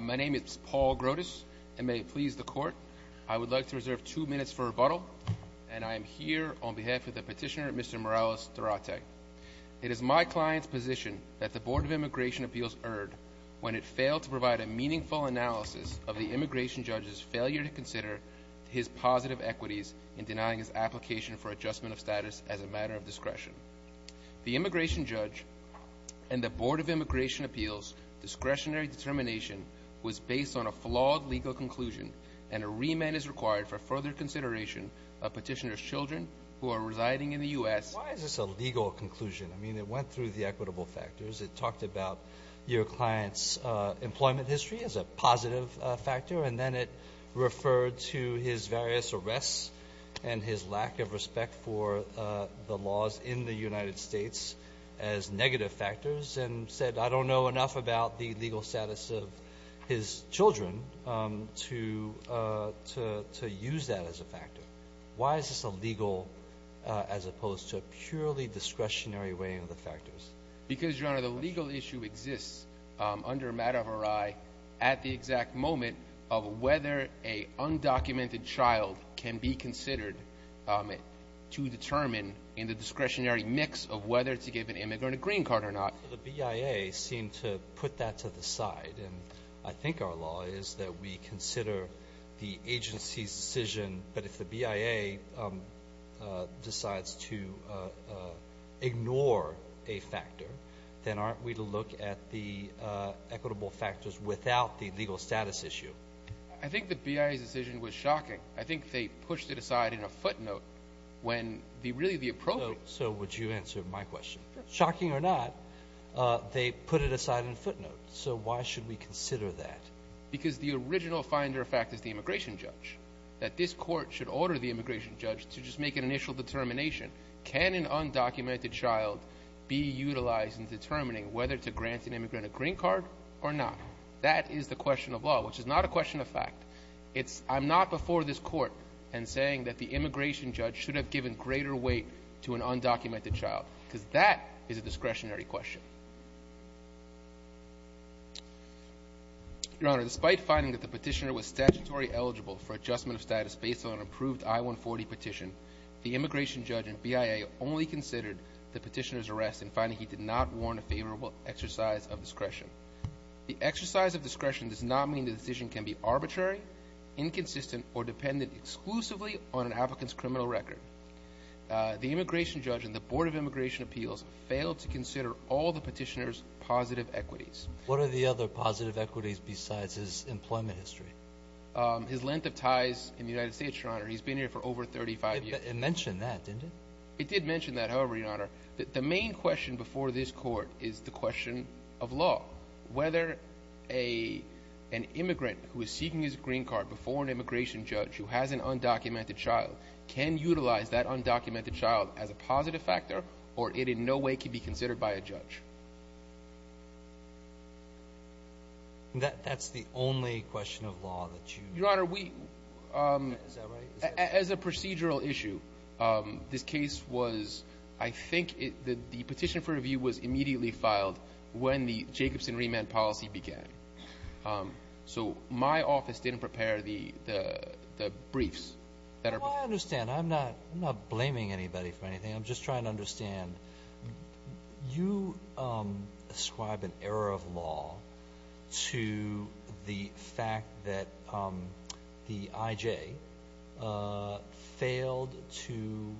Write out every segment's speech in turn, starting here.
My name is Paul Grotus, and may it please the Court, I would like to reserve two minutes for rebuttal, and I am here on behalf of the petitioner, Mr. Morales-Durate. It is my client's position that the Board of Immigration Appeals erred when it failed to provide a meaningful analysis of the immigration judge's failure to consider his positive equities in denying his application for adjustment of status as a matter of discretion. The immigration judge and the Board of Immigration Appeals' discretionary determination was based on a flawed legal conclusion, and a remand is required for further consideration of petitioner's children who are residing in the U.S. Why is this a legal conclusion? I mean, it went through the equitable factors. It talked about your client's employment history as a positive factor, and then it referred to his various arrests and his lack of respect for the laws in the United States as negative factors, and said, I don't know enough about the legal status of his children to use that as a factor. Why is this a legal, as opposed to a purely discretionary weighing of the factors? Because, Your Honor, the legal issue exists under a matter of array at the exact moment of whether a undocumented child can be considered to determine in the discretionary mix of whether to give an immigrant a green card or not. The BIA seemed to put that to the side, and I think our law is that we consider the agency's decision, but if the BIA decides to ignore a factor, then aren't we to look at the equitable factors without the legal status issue? I think the BIA's decision was shocking. I think they pushed it aside in a footnote when, really, the appropriate— So would you answer my question? Shocking or not, they put it aside in a footnote, so why should we consider that? Because the original finder of fact is the immigration judge, that this court should order the immigration judge to just make an initial determination, can an undocumented child be utilized in determining whether to grant an immigrant a green card or not? That is the question of law, which is not a question of fact. I'm not before this court and saying that the immigration judge should have given greater weight to an undocumented child, because that is a discretionary question. Your Honor, despite finding that the petitioner was statutory eligible for adjustment of status based on an approved I-140 petition, the immigration judge and BIA only considered the petitioner's arrest in finding he did not warrant a favorable exercise of discretion. The exercise of discretion does not mean the decision can be arbitrary, inconsistent, or dependent exclusively on an applicant's criminal record. The immigration judge and the Board of Immigration Appeals failed to consider all the petitioner's positive equities. What are the other positive equities besides his employment history? His length of ties in the United States, Your Honor. He's been here for over 35 years. It mentioned that, didn't it? It did mention that, however, Your Honor. The main question before this court is the question of law. Whether an immigrant who is seeking his green card before an immigration judge who has an undocumented child can utilize that undocumented child as a positive factor, or it in no way can be considered by a judge. That's the only question of law that you... Your Honor, we... Is that right? As a procedural issue, this case was, I think the petition for review was immediately filed when the Jacobson remand policy began. So my office didn't prepare the briefs that are... Well, I understand. I'm not blaming anybody for anything. I'm just trying to understand. You describe an error of law to the fact that the IJ failed to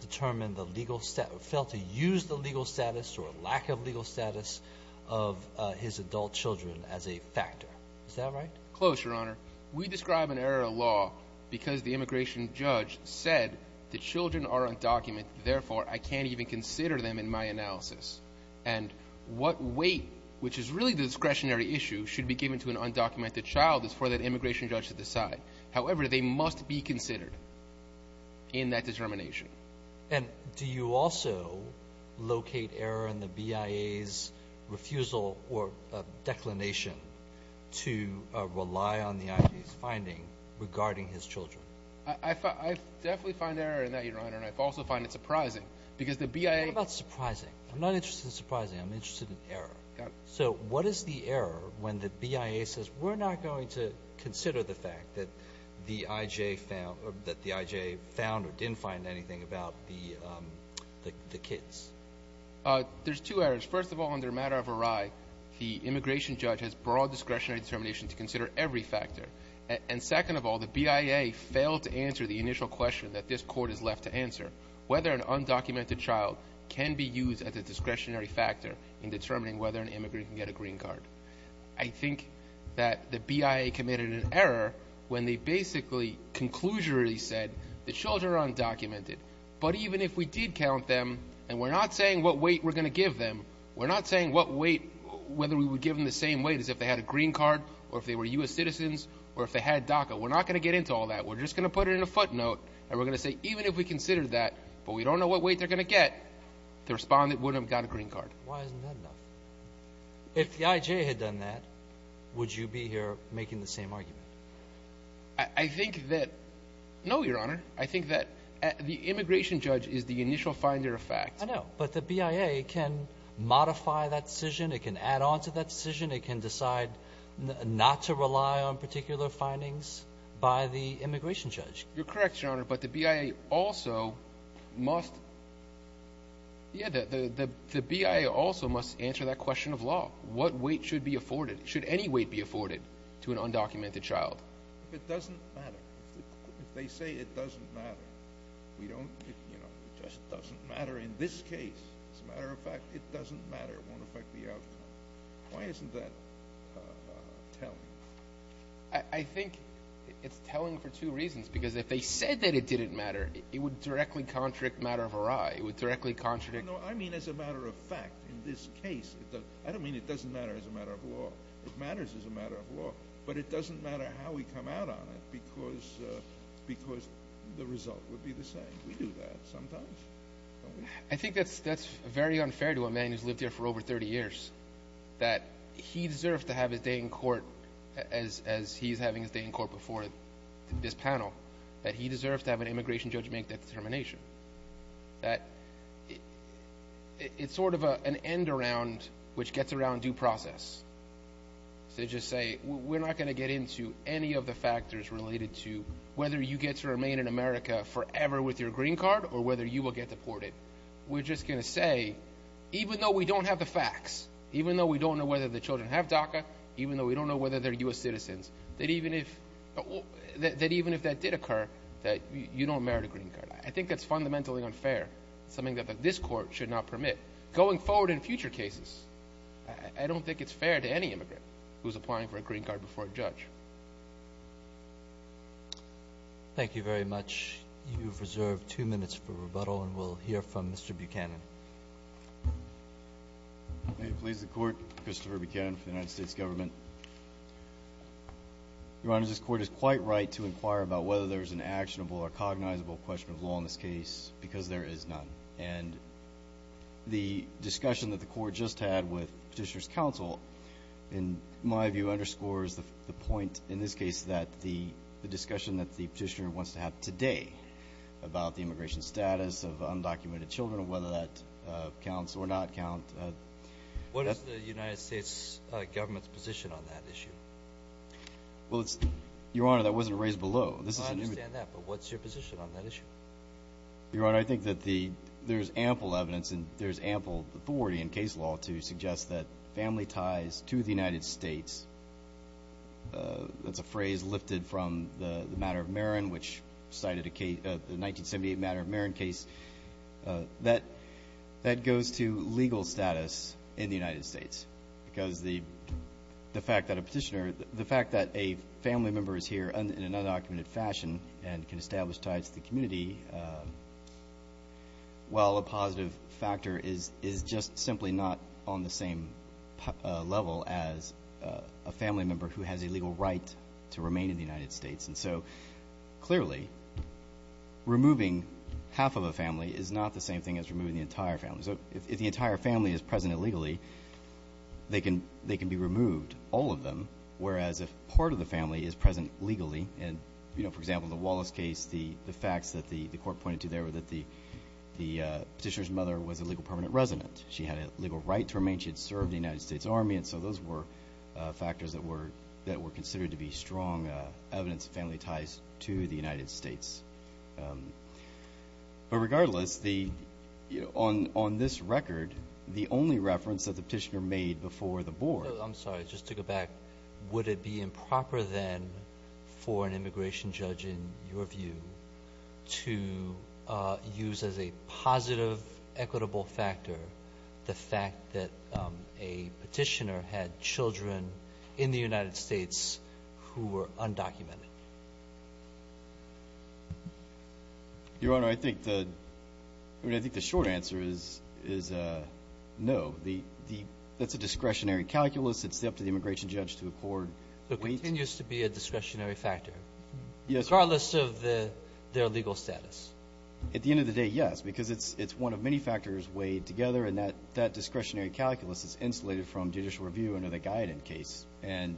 determine the legal... Failed to use the legal status or lack of legal status of his adult children as a factor. Is that right? Close, Your Honor. We describe an error of law because the immigration judge said the children are undocumented. Therefore, I can't even consider them in my analysis. And what weight, which is really the discretionary issue, should be given to an undocumented child is for that immigration judge to decide. However, they must be considered in that determination. And do you also locate error in the BIA's refusal or declination to rely on the IJ's finding regarding his children? I definitely find error in that, Your Honor, and I also find it surprising because the BIA... What about surprising? I'm not interested in surprising. I'm interested in error. Got it. So what is the error when the BIA says, We're not going to consider the fact that the IJ found or didn't find anything about the kids. There's two errors. First of all, under a matter of awry, the immigration judge has broad discretionary determination to consider every factor. And second of all, the BIA failed to answer the initial question that this Court is left to answer, whether an undocumented child can be used as a discretionary factor in determining whether an immigrant can get a green card. I think that the BIA committed an error when they basically conclusively said the children are undocumented, but even if we did count them and we're not saying what weight we're going to give them, we're not saying what weight, whether we would give them the same weight as if they had a green card or if they were U.S. citizens or if they had DACA. We're not going to get into all that. We're just going to put it in a footnote, and we're going to say even if we considered that, but we don't know what weight they're going to get, the respondent would have got a green card. Why isn't that enough? If the IJ had done that, would you be here making the same argument? I think that no, Your Honor. I think that the immigration judge is the initial finder of facts. I know, but the BIA can modify that decision. It can add on to that decision. It can decide not to rely on particular findings by the immigration judge. You're correct, Your Honor, but the BIA also must answer that question. It's a question of law. What weight should be afforded? Should any weight be afforded to an undocumented child? It doesn't matter. If they say it doesn't matter, we don't, you know, it just doesn't matter in this case. As a matter of fact, it doesn't matter. It won't affect the outcome. Why isn't that telling? I think it's telling for two reasons, because if they said that it didn't matter, it would directly contradict matter of array. It would directly contradict. No, I mean as a matter of fact in this case. I don't mean it doesn't matter as a matter of law. It matters as a matter of law, but it doesn't matter how we come out on it because the result would be the same. We do that sometimes, don't we? I think that's very unfair to a man who's lived here for over 30 years, that he deserves to have his day in court as he's having his day in court before this panel, that he deserves to have an immigration judge make that determination, that it's sort of an end around which gets around due process. To just say we're not going to get into any of the factors related to whether you get to remain in America forever with your green card or whether you will get deported. We're just going to say even though we don't have the facts, even though we don't know whether the children have DACA, even though we don't know whether they're U.S. citizens, that even if that did occur, that you don't merit a green card. I think that's fundamentally unfair, something that this Court should not permit. Going forward in future cases, I don't think it's fair to any immigrant who's applying for a green card before a judge. Thank you very much. You've reserved two minutes for rebuttal, and we'll hear from Mr. Buchanan. May it please the Court, Christopher Buchanan for the United States Government. Your Honor, this Court is quite right to inquire about whether there's an actionable or cognizable question of law in this case because there is none. The discussion that the Court just had with Petitioner's counsel, in my view, underscores the point in this case that the discussion that the Petitioner wants to have today about the immigration status of undocumented children, whether that counts or not count. What is the United States Government's position on that issue? Your Honor, that wasn't raised below. I understand that, but what's your position on that issue? Your Honor, I think that there's ample evidence and there's ample authority in case law to suggest that family ties to the United States, that's a phrase lifted from the 1978 Matter of Marin case, that goes to legal status in the United States because the fact that a Petitioner, the fact that a family member is here in an undocumented fashion and can establish ties to the community, while a positive factor is just simply not on the same level as a family member who has a legal right to remain in the United States. And so, clearly, removing half of a family is not the same thing as removing the entire family. So if the entire family is present illegally, they can be removed, all of them, whereas if part of the family is present legally, and, you know, for example, the Wallace case, the facts that the Court pointed to there were that the Petitioner's mother was a legal permanent resident. She had a legal right to remain. She had served in the United States Army, and so those were factors that were considered to be strong evidence of family ties to the United States. But regardless, on this record, the only reference that the Petitioner made before the Board. I'm sorry. Just to go back, would it be improper then for an immigration judge, in your view, to use as a positive equitable factor the fact that a Petitioner had children in the United States who were undocumented? Your Honor, I think the short answer is no. That's a discretionary calculus. It's up to the immigration judge to accord weight. So it continues to be a discretionary factor. Yes. Regardless of their legal status. At the end of the day, yes, because it's one of many factors weighed together, and that discretionary calculus is insulated from judicial review under the Guyatton case and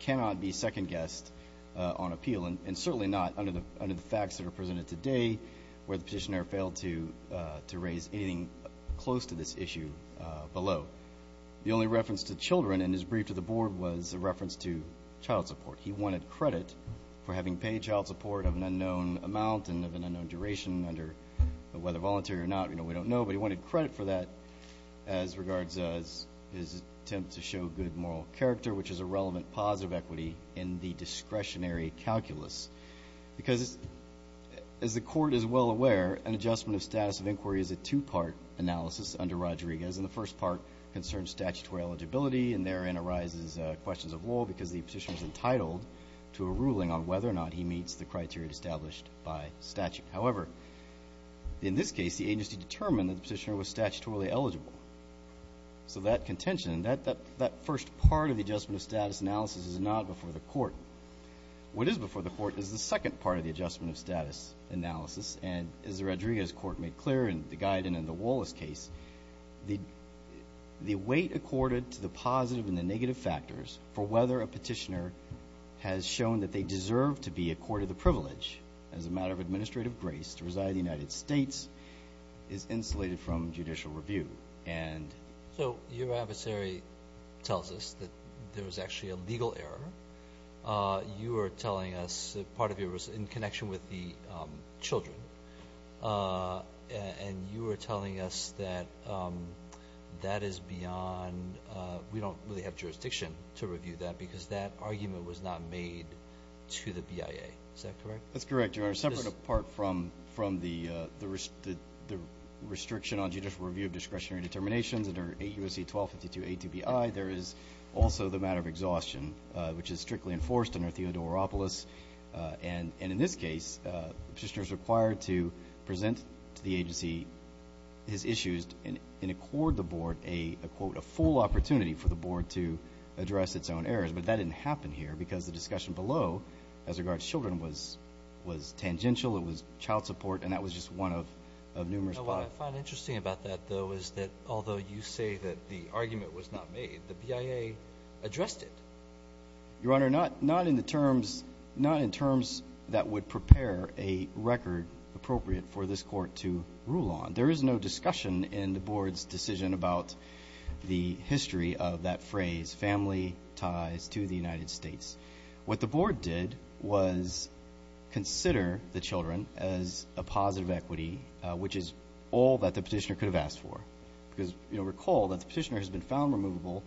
cannot be second-guessed on appeal, and certainly not under the facts that are presented today where the Petitioner failed to raise anything close to this issue below. The only reference to children in his brief to the Board was a reference to child support. He wanted credit for having paid child support of an unknown amount and of an unknown duration under whether voluntary or not. We don't know, but he wanted credit for that as regards his attempt to show good moral character, which is a relevant positive equity in the discretionary calculus. Because as the Court is well aware, an adjustment of status of inquiry is a two-part analysis under Rodriguez, and the first part concerns statutory eligibility, and therein arises questions of law, because the Petitioner is entitled to a ruling on whether or not he meets the criteria established by statute. However, in this case, the agency determined that the Petitioner was statutorily eligible. So that contention, that first part of the adjustment of status analysis is not before the Court. What is before the Court is the second part of the adjustment of status analysis, and as the Rodriguez Court made clear in the Guyatton and the Wallace case, the weight accorded to the positive and the negative factors for whether a Petitioner has shown that they deserve to be accorded the privilege as a matter of administrative grace to reside in the United States is insulated from judicial review. So your adversary tells us that there was actually a legal error. You are telling us that part of it was in connection with the children, and you are telling us that that is beyond – we don't really have jurisdiction to review that because that argument was not made to the BIA. Is that correct? That's correct, Your Honor. Separate apart from the restriction on judicial review of discretionary determinations under 8 U.S.C. 1252 A2BI, there is also the matter of exhaustion, which is strictly enforced under Theodoropoulos. And in this case, the Petitioner is required to present to the agency his issues and accord the Board a, quote, a full opportunity for the Board to address its own errors. But that didn't happen here because the discussion below as regards children was tangential, it was child support, and that was just one of numerous – What I find interesting about that, though, is that although you say that the argument was not made, the BIA addressed it. Your Honor, not in the terms – not in terms that would prepare a record appropriate for this Court to rule on. There is no discussion in the Board's decision about the history of that phrase, family ties to the United States. What the Board did was consider the children as a positive equity, which is all that the Petitioner could have asked for. Because, you know, recall that the Petitioner has been found removable,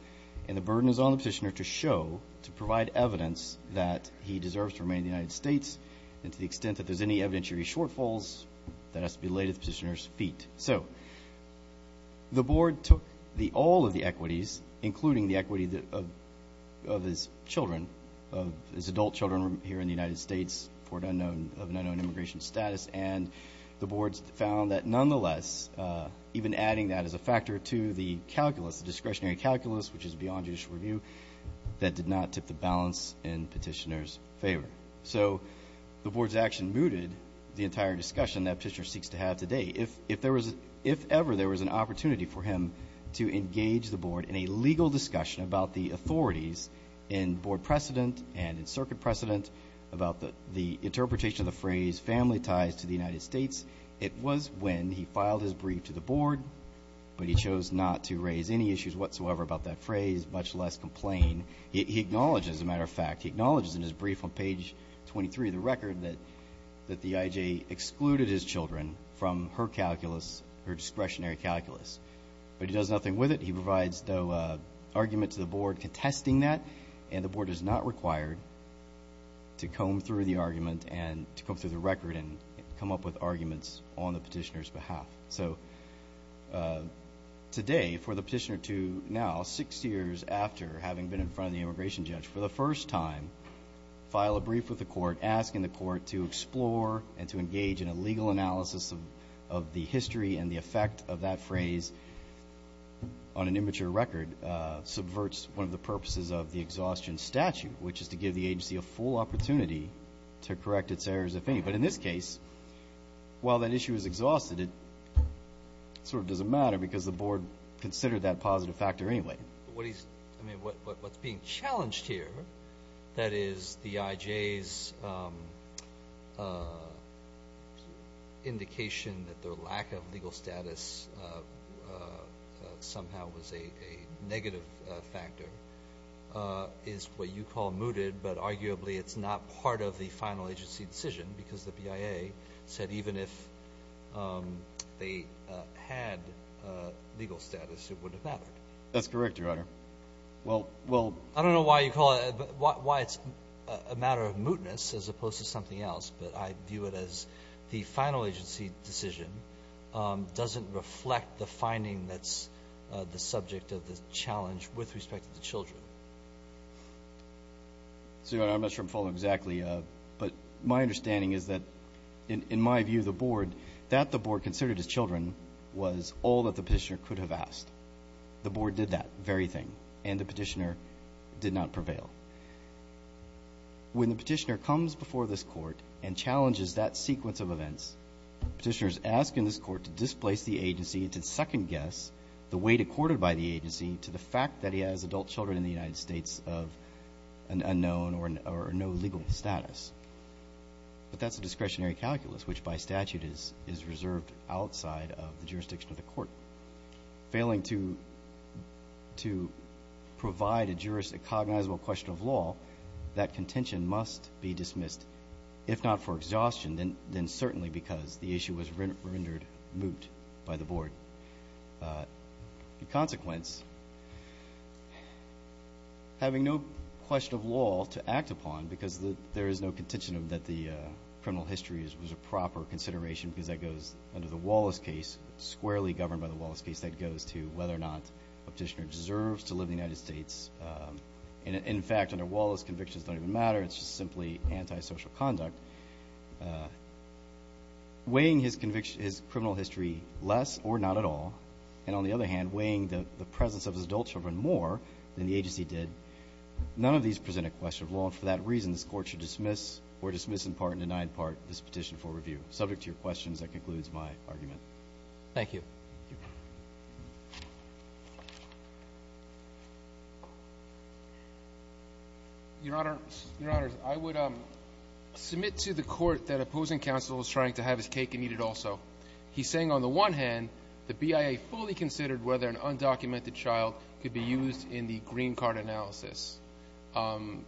and the burden is on the Petitioner to show, to provide evidence that he deserves to remain in the United States, and to the extent that there's any evidentiary shortfalls, that has to be laid at the Petitioner's feet. So the Board took all of the equities, including the equity of his children, of his adult children here in the United States for an unknown immigration status, and the Board found that nonetheless, even adding that as a factor to the calculus, the discretionary calculus, which is beyond judicial review, that did not tip the balance in the Petitioner's favor. So the Board's action mooted the entire discussion that Petitioner seeks to have today. If ever there was an opportunity for him to engage the Board in a legal discussion about the authorities in Board precedent and in Circuit precedent about the interpretation of the phrase family ties to the United States, it was when he filed his brief to the Board, but he chose not to raise any issues whatsoever about that phrase, much less complain. He acknowledges, as a matter of fact, he acknowledges in his brief on page 23 of the record that the IJ excluded his children from her calculus, her discretionary calculus. But he does nothing with it. He provides no argument to the Board contesting that, and the Board is not required to comb through the argument and to comb through the record and come up with arguments on the Petitioner's behalf. So today, for the Petitioner to now, six years after having been in front of the immigration judge for the first time, file a brief with the Court asking the Court to explore and to engage in a legal analysis of the history and the effect of that phrase on an immature record subverts one of the purposes of the exhaustion statute, which is to give the agency a full opportunity to correct its errors, if any. But in this case, while that issue is exhausted, it sort of doesn't matter because the Board considered that positive factor anyway. What he's, I mean, what's being challenged here, that is, the IJ's indication that their lack of legal status somehow was a negative factor is what you call mooted, but arguably it's not part of the final agency decision because the BIA said even if they had legal status, it wouldn't have mattered. That's correct, Your Honor. I don't know why it's a matter of mootness as opposed to something else, but I view it as the final agency decision doesn't reflect the finding that's the subject of the challenge with respect to the children. So, Your Honor, I'm not sure I'm following exactly, but my understanding is that, in my view, the Board, that the Board considered as children was all that the petitioner could have asked. The Board did that very thing, and the petitioner did not prevail. When the petitioner comes before this Court and challenges that sequence of events, the petitioner is asking this Court to displace the agency to second guess the weight accorded by the agency to the fact that he has adult children in the United States of an unknown or no legal status. But that's a discretionary calculus, which by statute is reserved outside of the jurisdiction of the Court. Failing to provide a cognizable question of law, that contention must be dismissed, if not for exhaustion, then certainly because the issue was rendered moot by the Board. In consequence, having no question of law to act upon, because there is no contention that the criminal history is a proper consideration because that goes under the Wallace case, squarely governed by the Wallace case, that goes to whether or not a petitioner deserves to live in the United States. In fact, under Wallace, convictions don't even matter. It's just simply antisocial conduct. Weighing his criminal history less or not at all, and on the other hand weighing the presence of his adult children more than the agency did, none of these present a question of law. And for that reason, this Court should dismiss or dismiss in part and deny in part this petition for review. Subject to your questions, that concludes my argument. Thank you. Thank you. Your Honor, I would submit to the Court that opposing counsel is trying to have his cake and eat it also. He's saying on the one hand the BIA fully considered whether an undocumented child could be used in the green card analysis and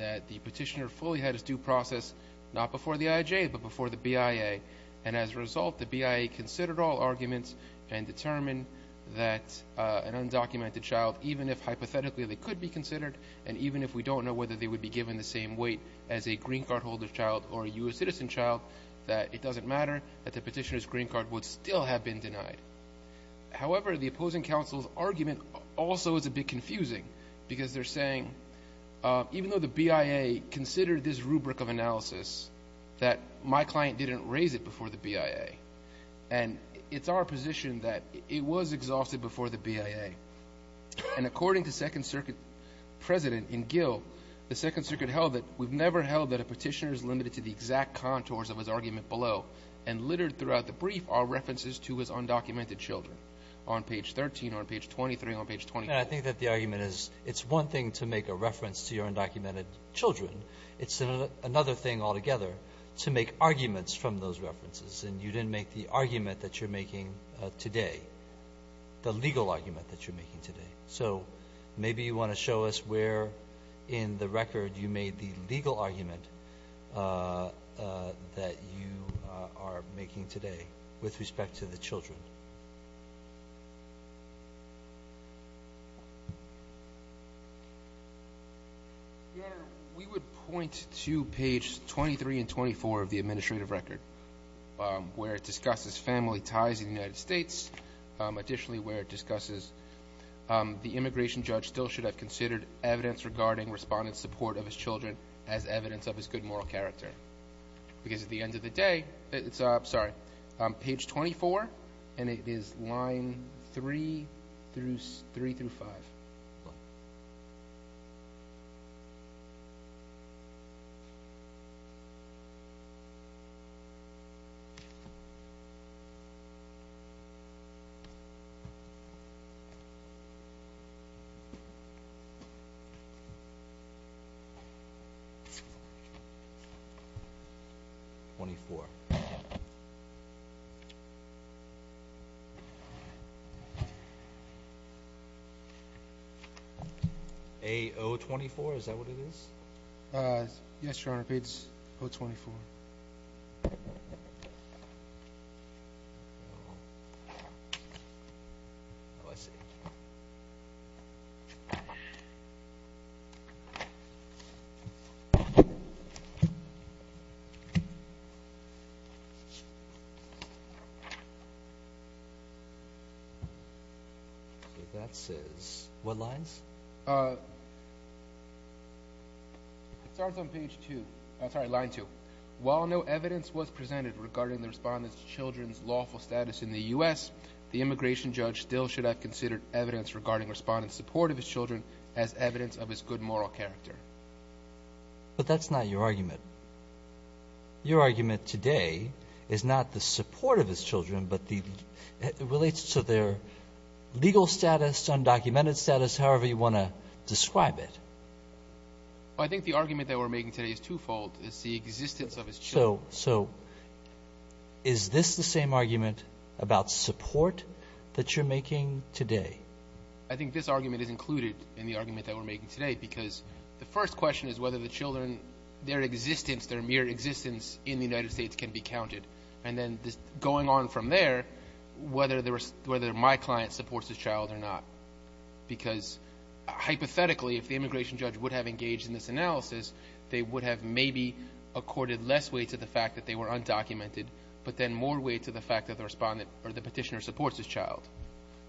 that the petitioner fully had his due process not before the IJ but before the BIA, and as a result the BIA considered all arguments and determined that an undocumented child, even if hypothetically they could be considered and even if we don't know whether they would be given the same weight as a green card holder child or a U.S. citizen child, that it doesn't matter that the petitioner's green card would still have been denied. However, the opposing counsel's argument also is a bit confusing because they're saying even though the BIA considered this rubric of analysis that my client didn't raise it before the BIA and it's our position that it was exhausted before the BIA, and according to Second Circuit President in Gill, the Second Circuit held that we've never held that a petitioner is limited to the exact contours of his argument below and littered throughout the brief are references to his undocumented children on page 13, on page 23, on page 24. And I think that the argument is it's one thing to make a reference to your undocumented children. It's another thing altogether to make arguments from those references, and you didn't make the argument that you're making today, the legal argument that you're making today. So maybe you want to show us where in the record you made the legal argument that you are making today with respect to the children. Your Honor, we would point to page 23 and 24 of the administrative record, where it discusses family ties in the United States, additionally where it discusses the immigration judge still should have considered evidence regarding respondent support of his children as evidence of his good moral character. Because at the end of the day, it's page 24, and it is line 3 through 5. 24. A-024, is that what it is? Yes, Your Honor, it's 024. 024. Oh, I see. So that says what lines? It starts on page 2, sorry, line 2. While no evidence was presented regarding the respondent's children's lawful status in the U.S., the immigration judge still should have considered evidence regarding respondent support of his children as evidence of his good moral character. But that's not your argument. Your argument today is not the support of his children, but it relates to their legal status, undocumented status, however you want to describe it. Well, I think the argument that we're making today is twofold. It's the existence of his children. So is this the same argument about support that you're making today? I think this argument is included in the argument that we're making today, because the first question is whether the children, their existence, their mere existence in the United States can be counted. And then going on from there, whether my client supports his child or not. Because hypothetically, if the immigration judge would have engaged in this analysis, they would have maybe accorded less weight to the fact that they were undocumented, but then more weight to the fact that the petitioner supports his child.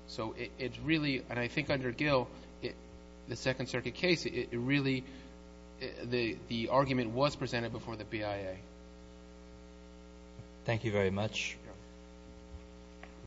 So it's really, and I think under Gill, the Second Circuit case, it really, the argument was presented before the BIA. Thank you very much.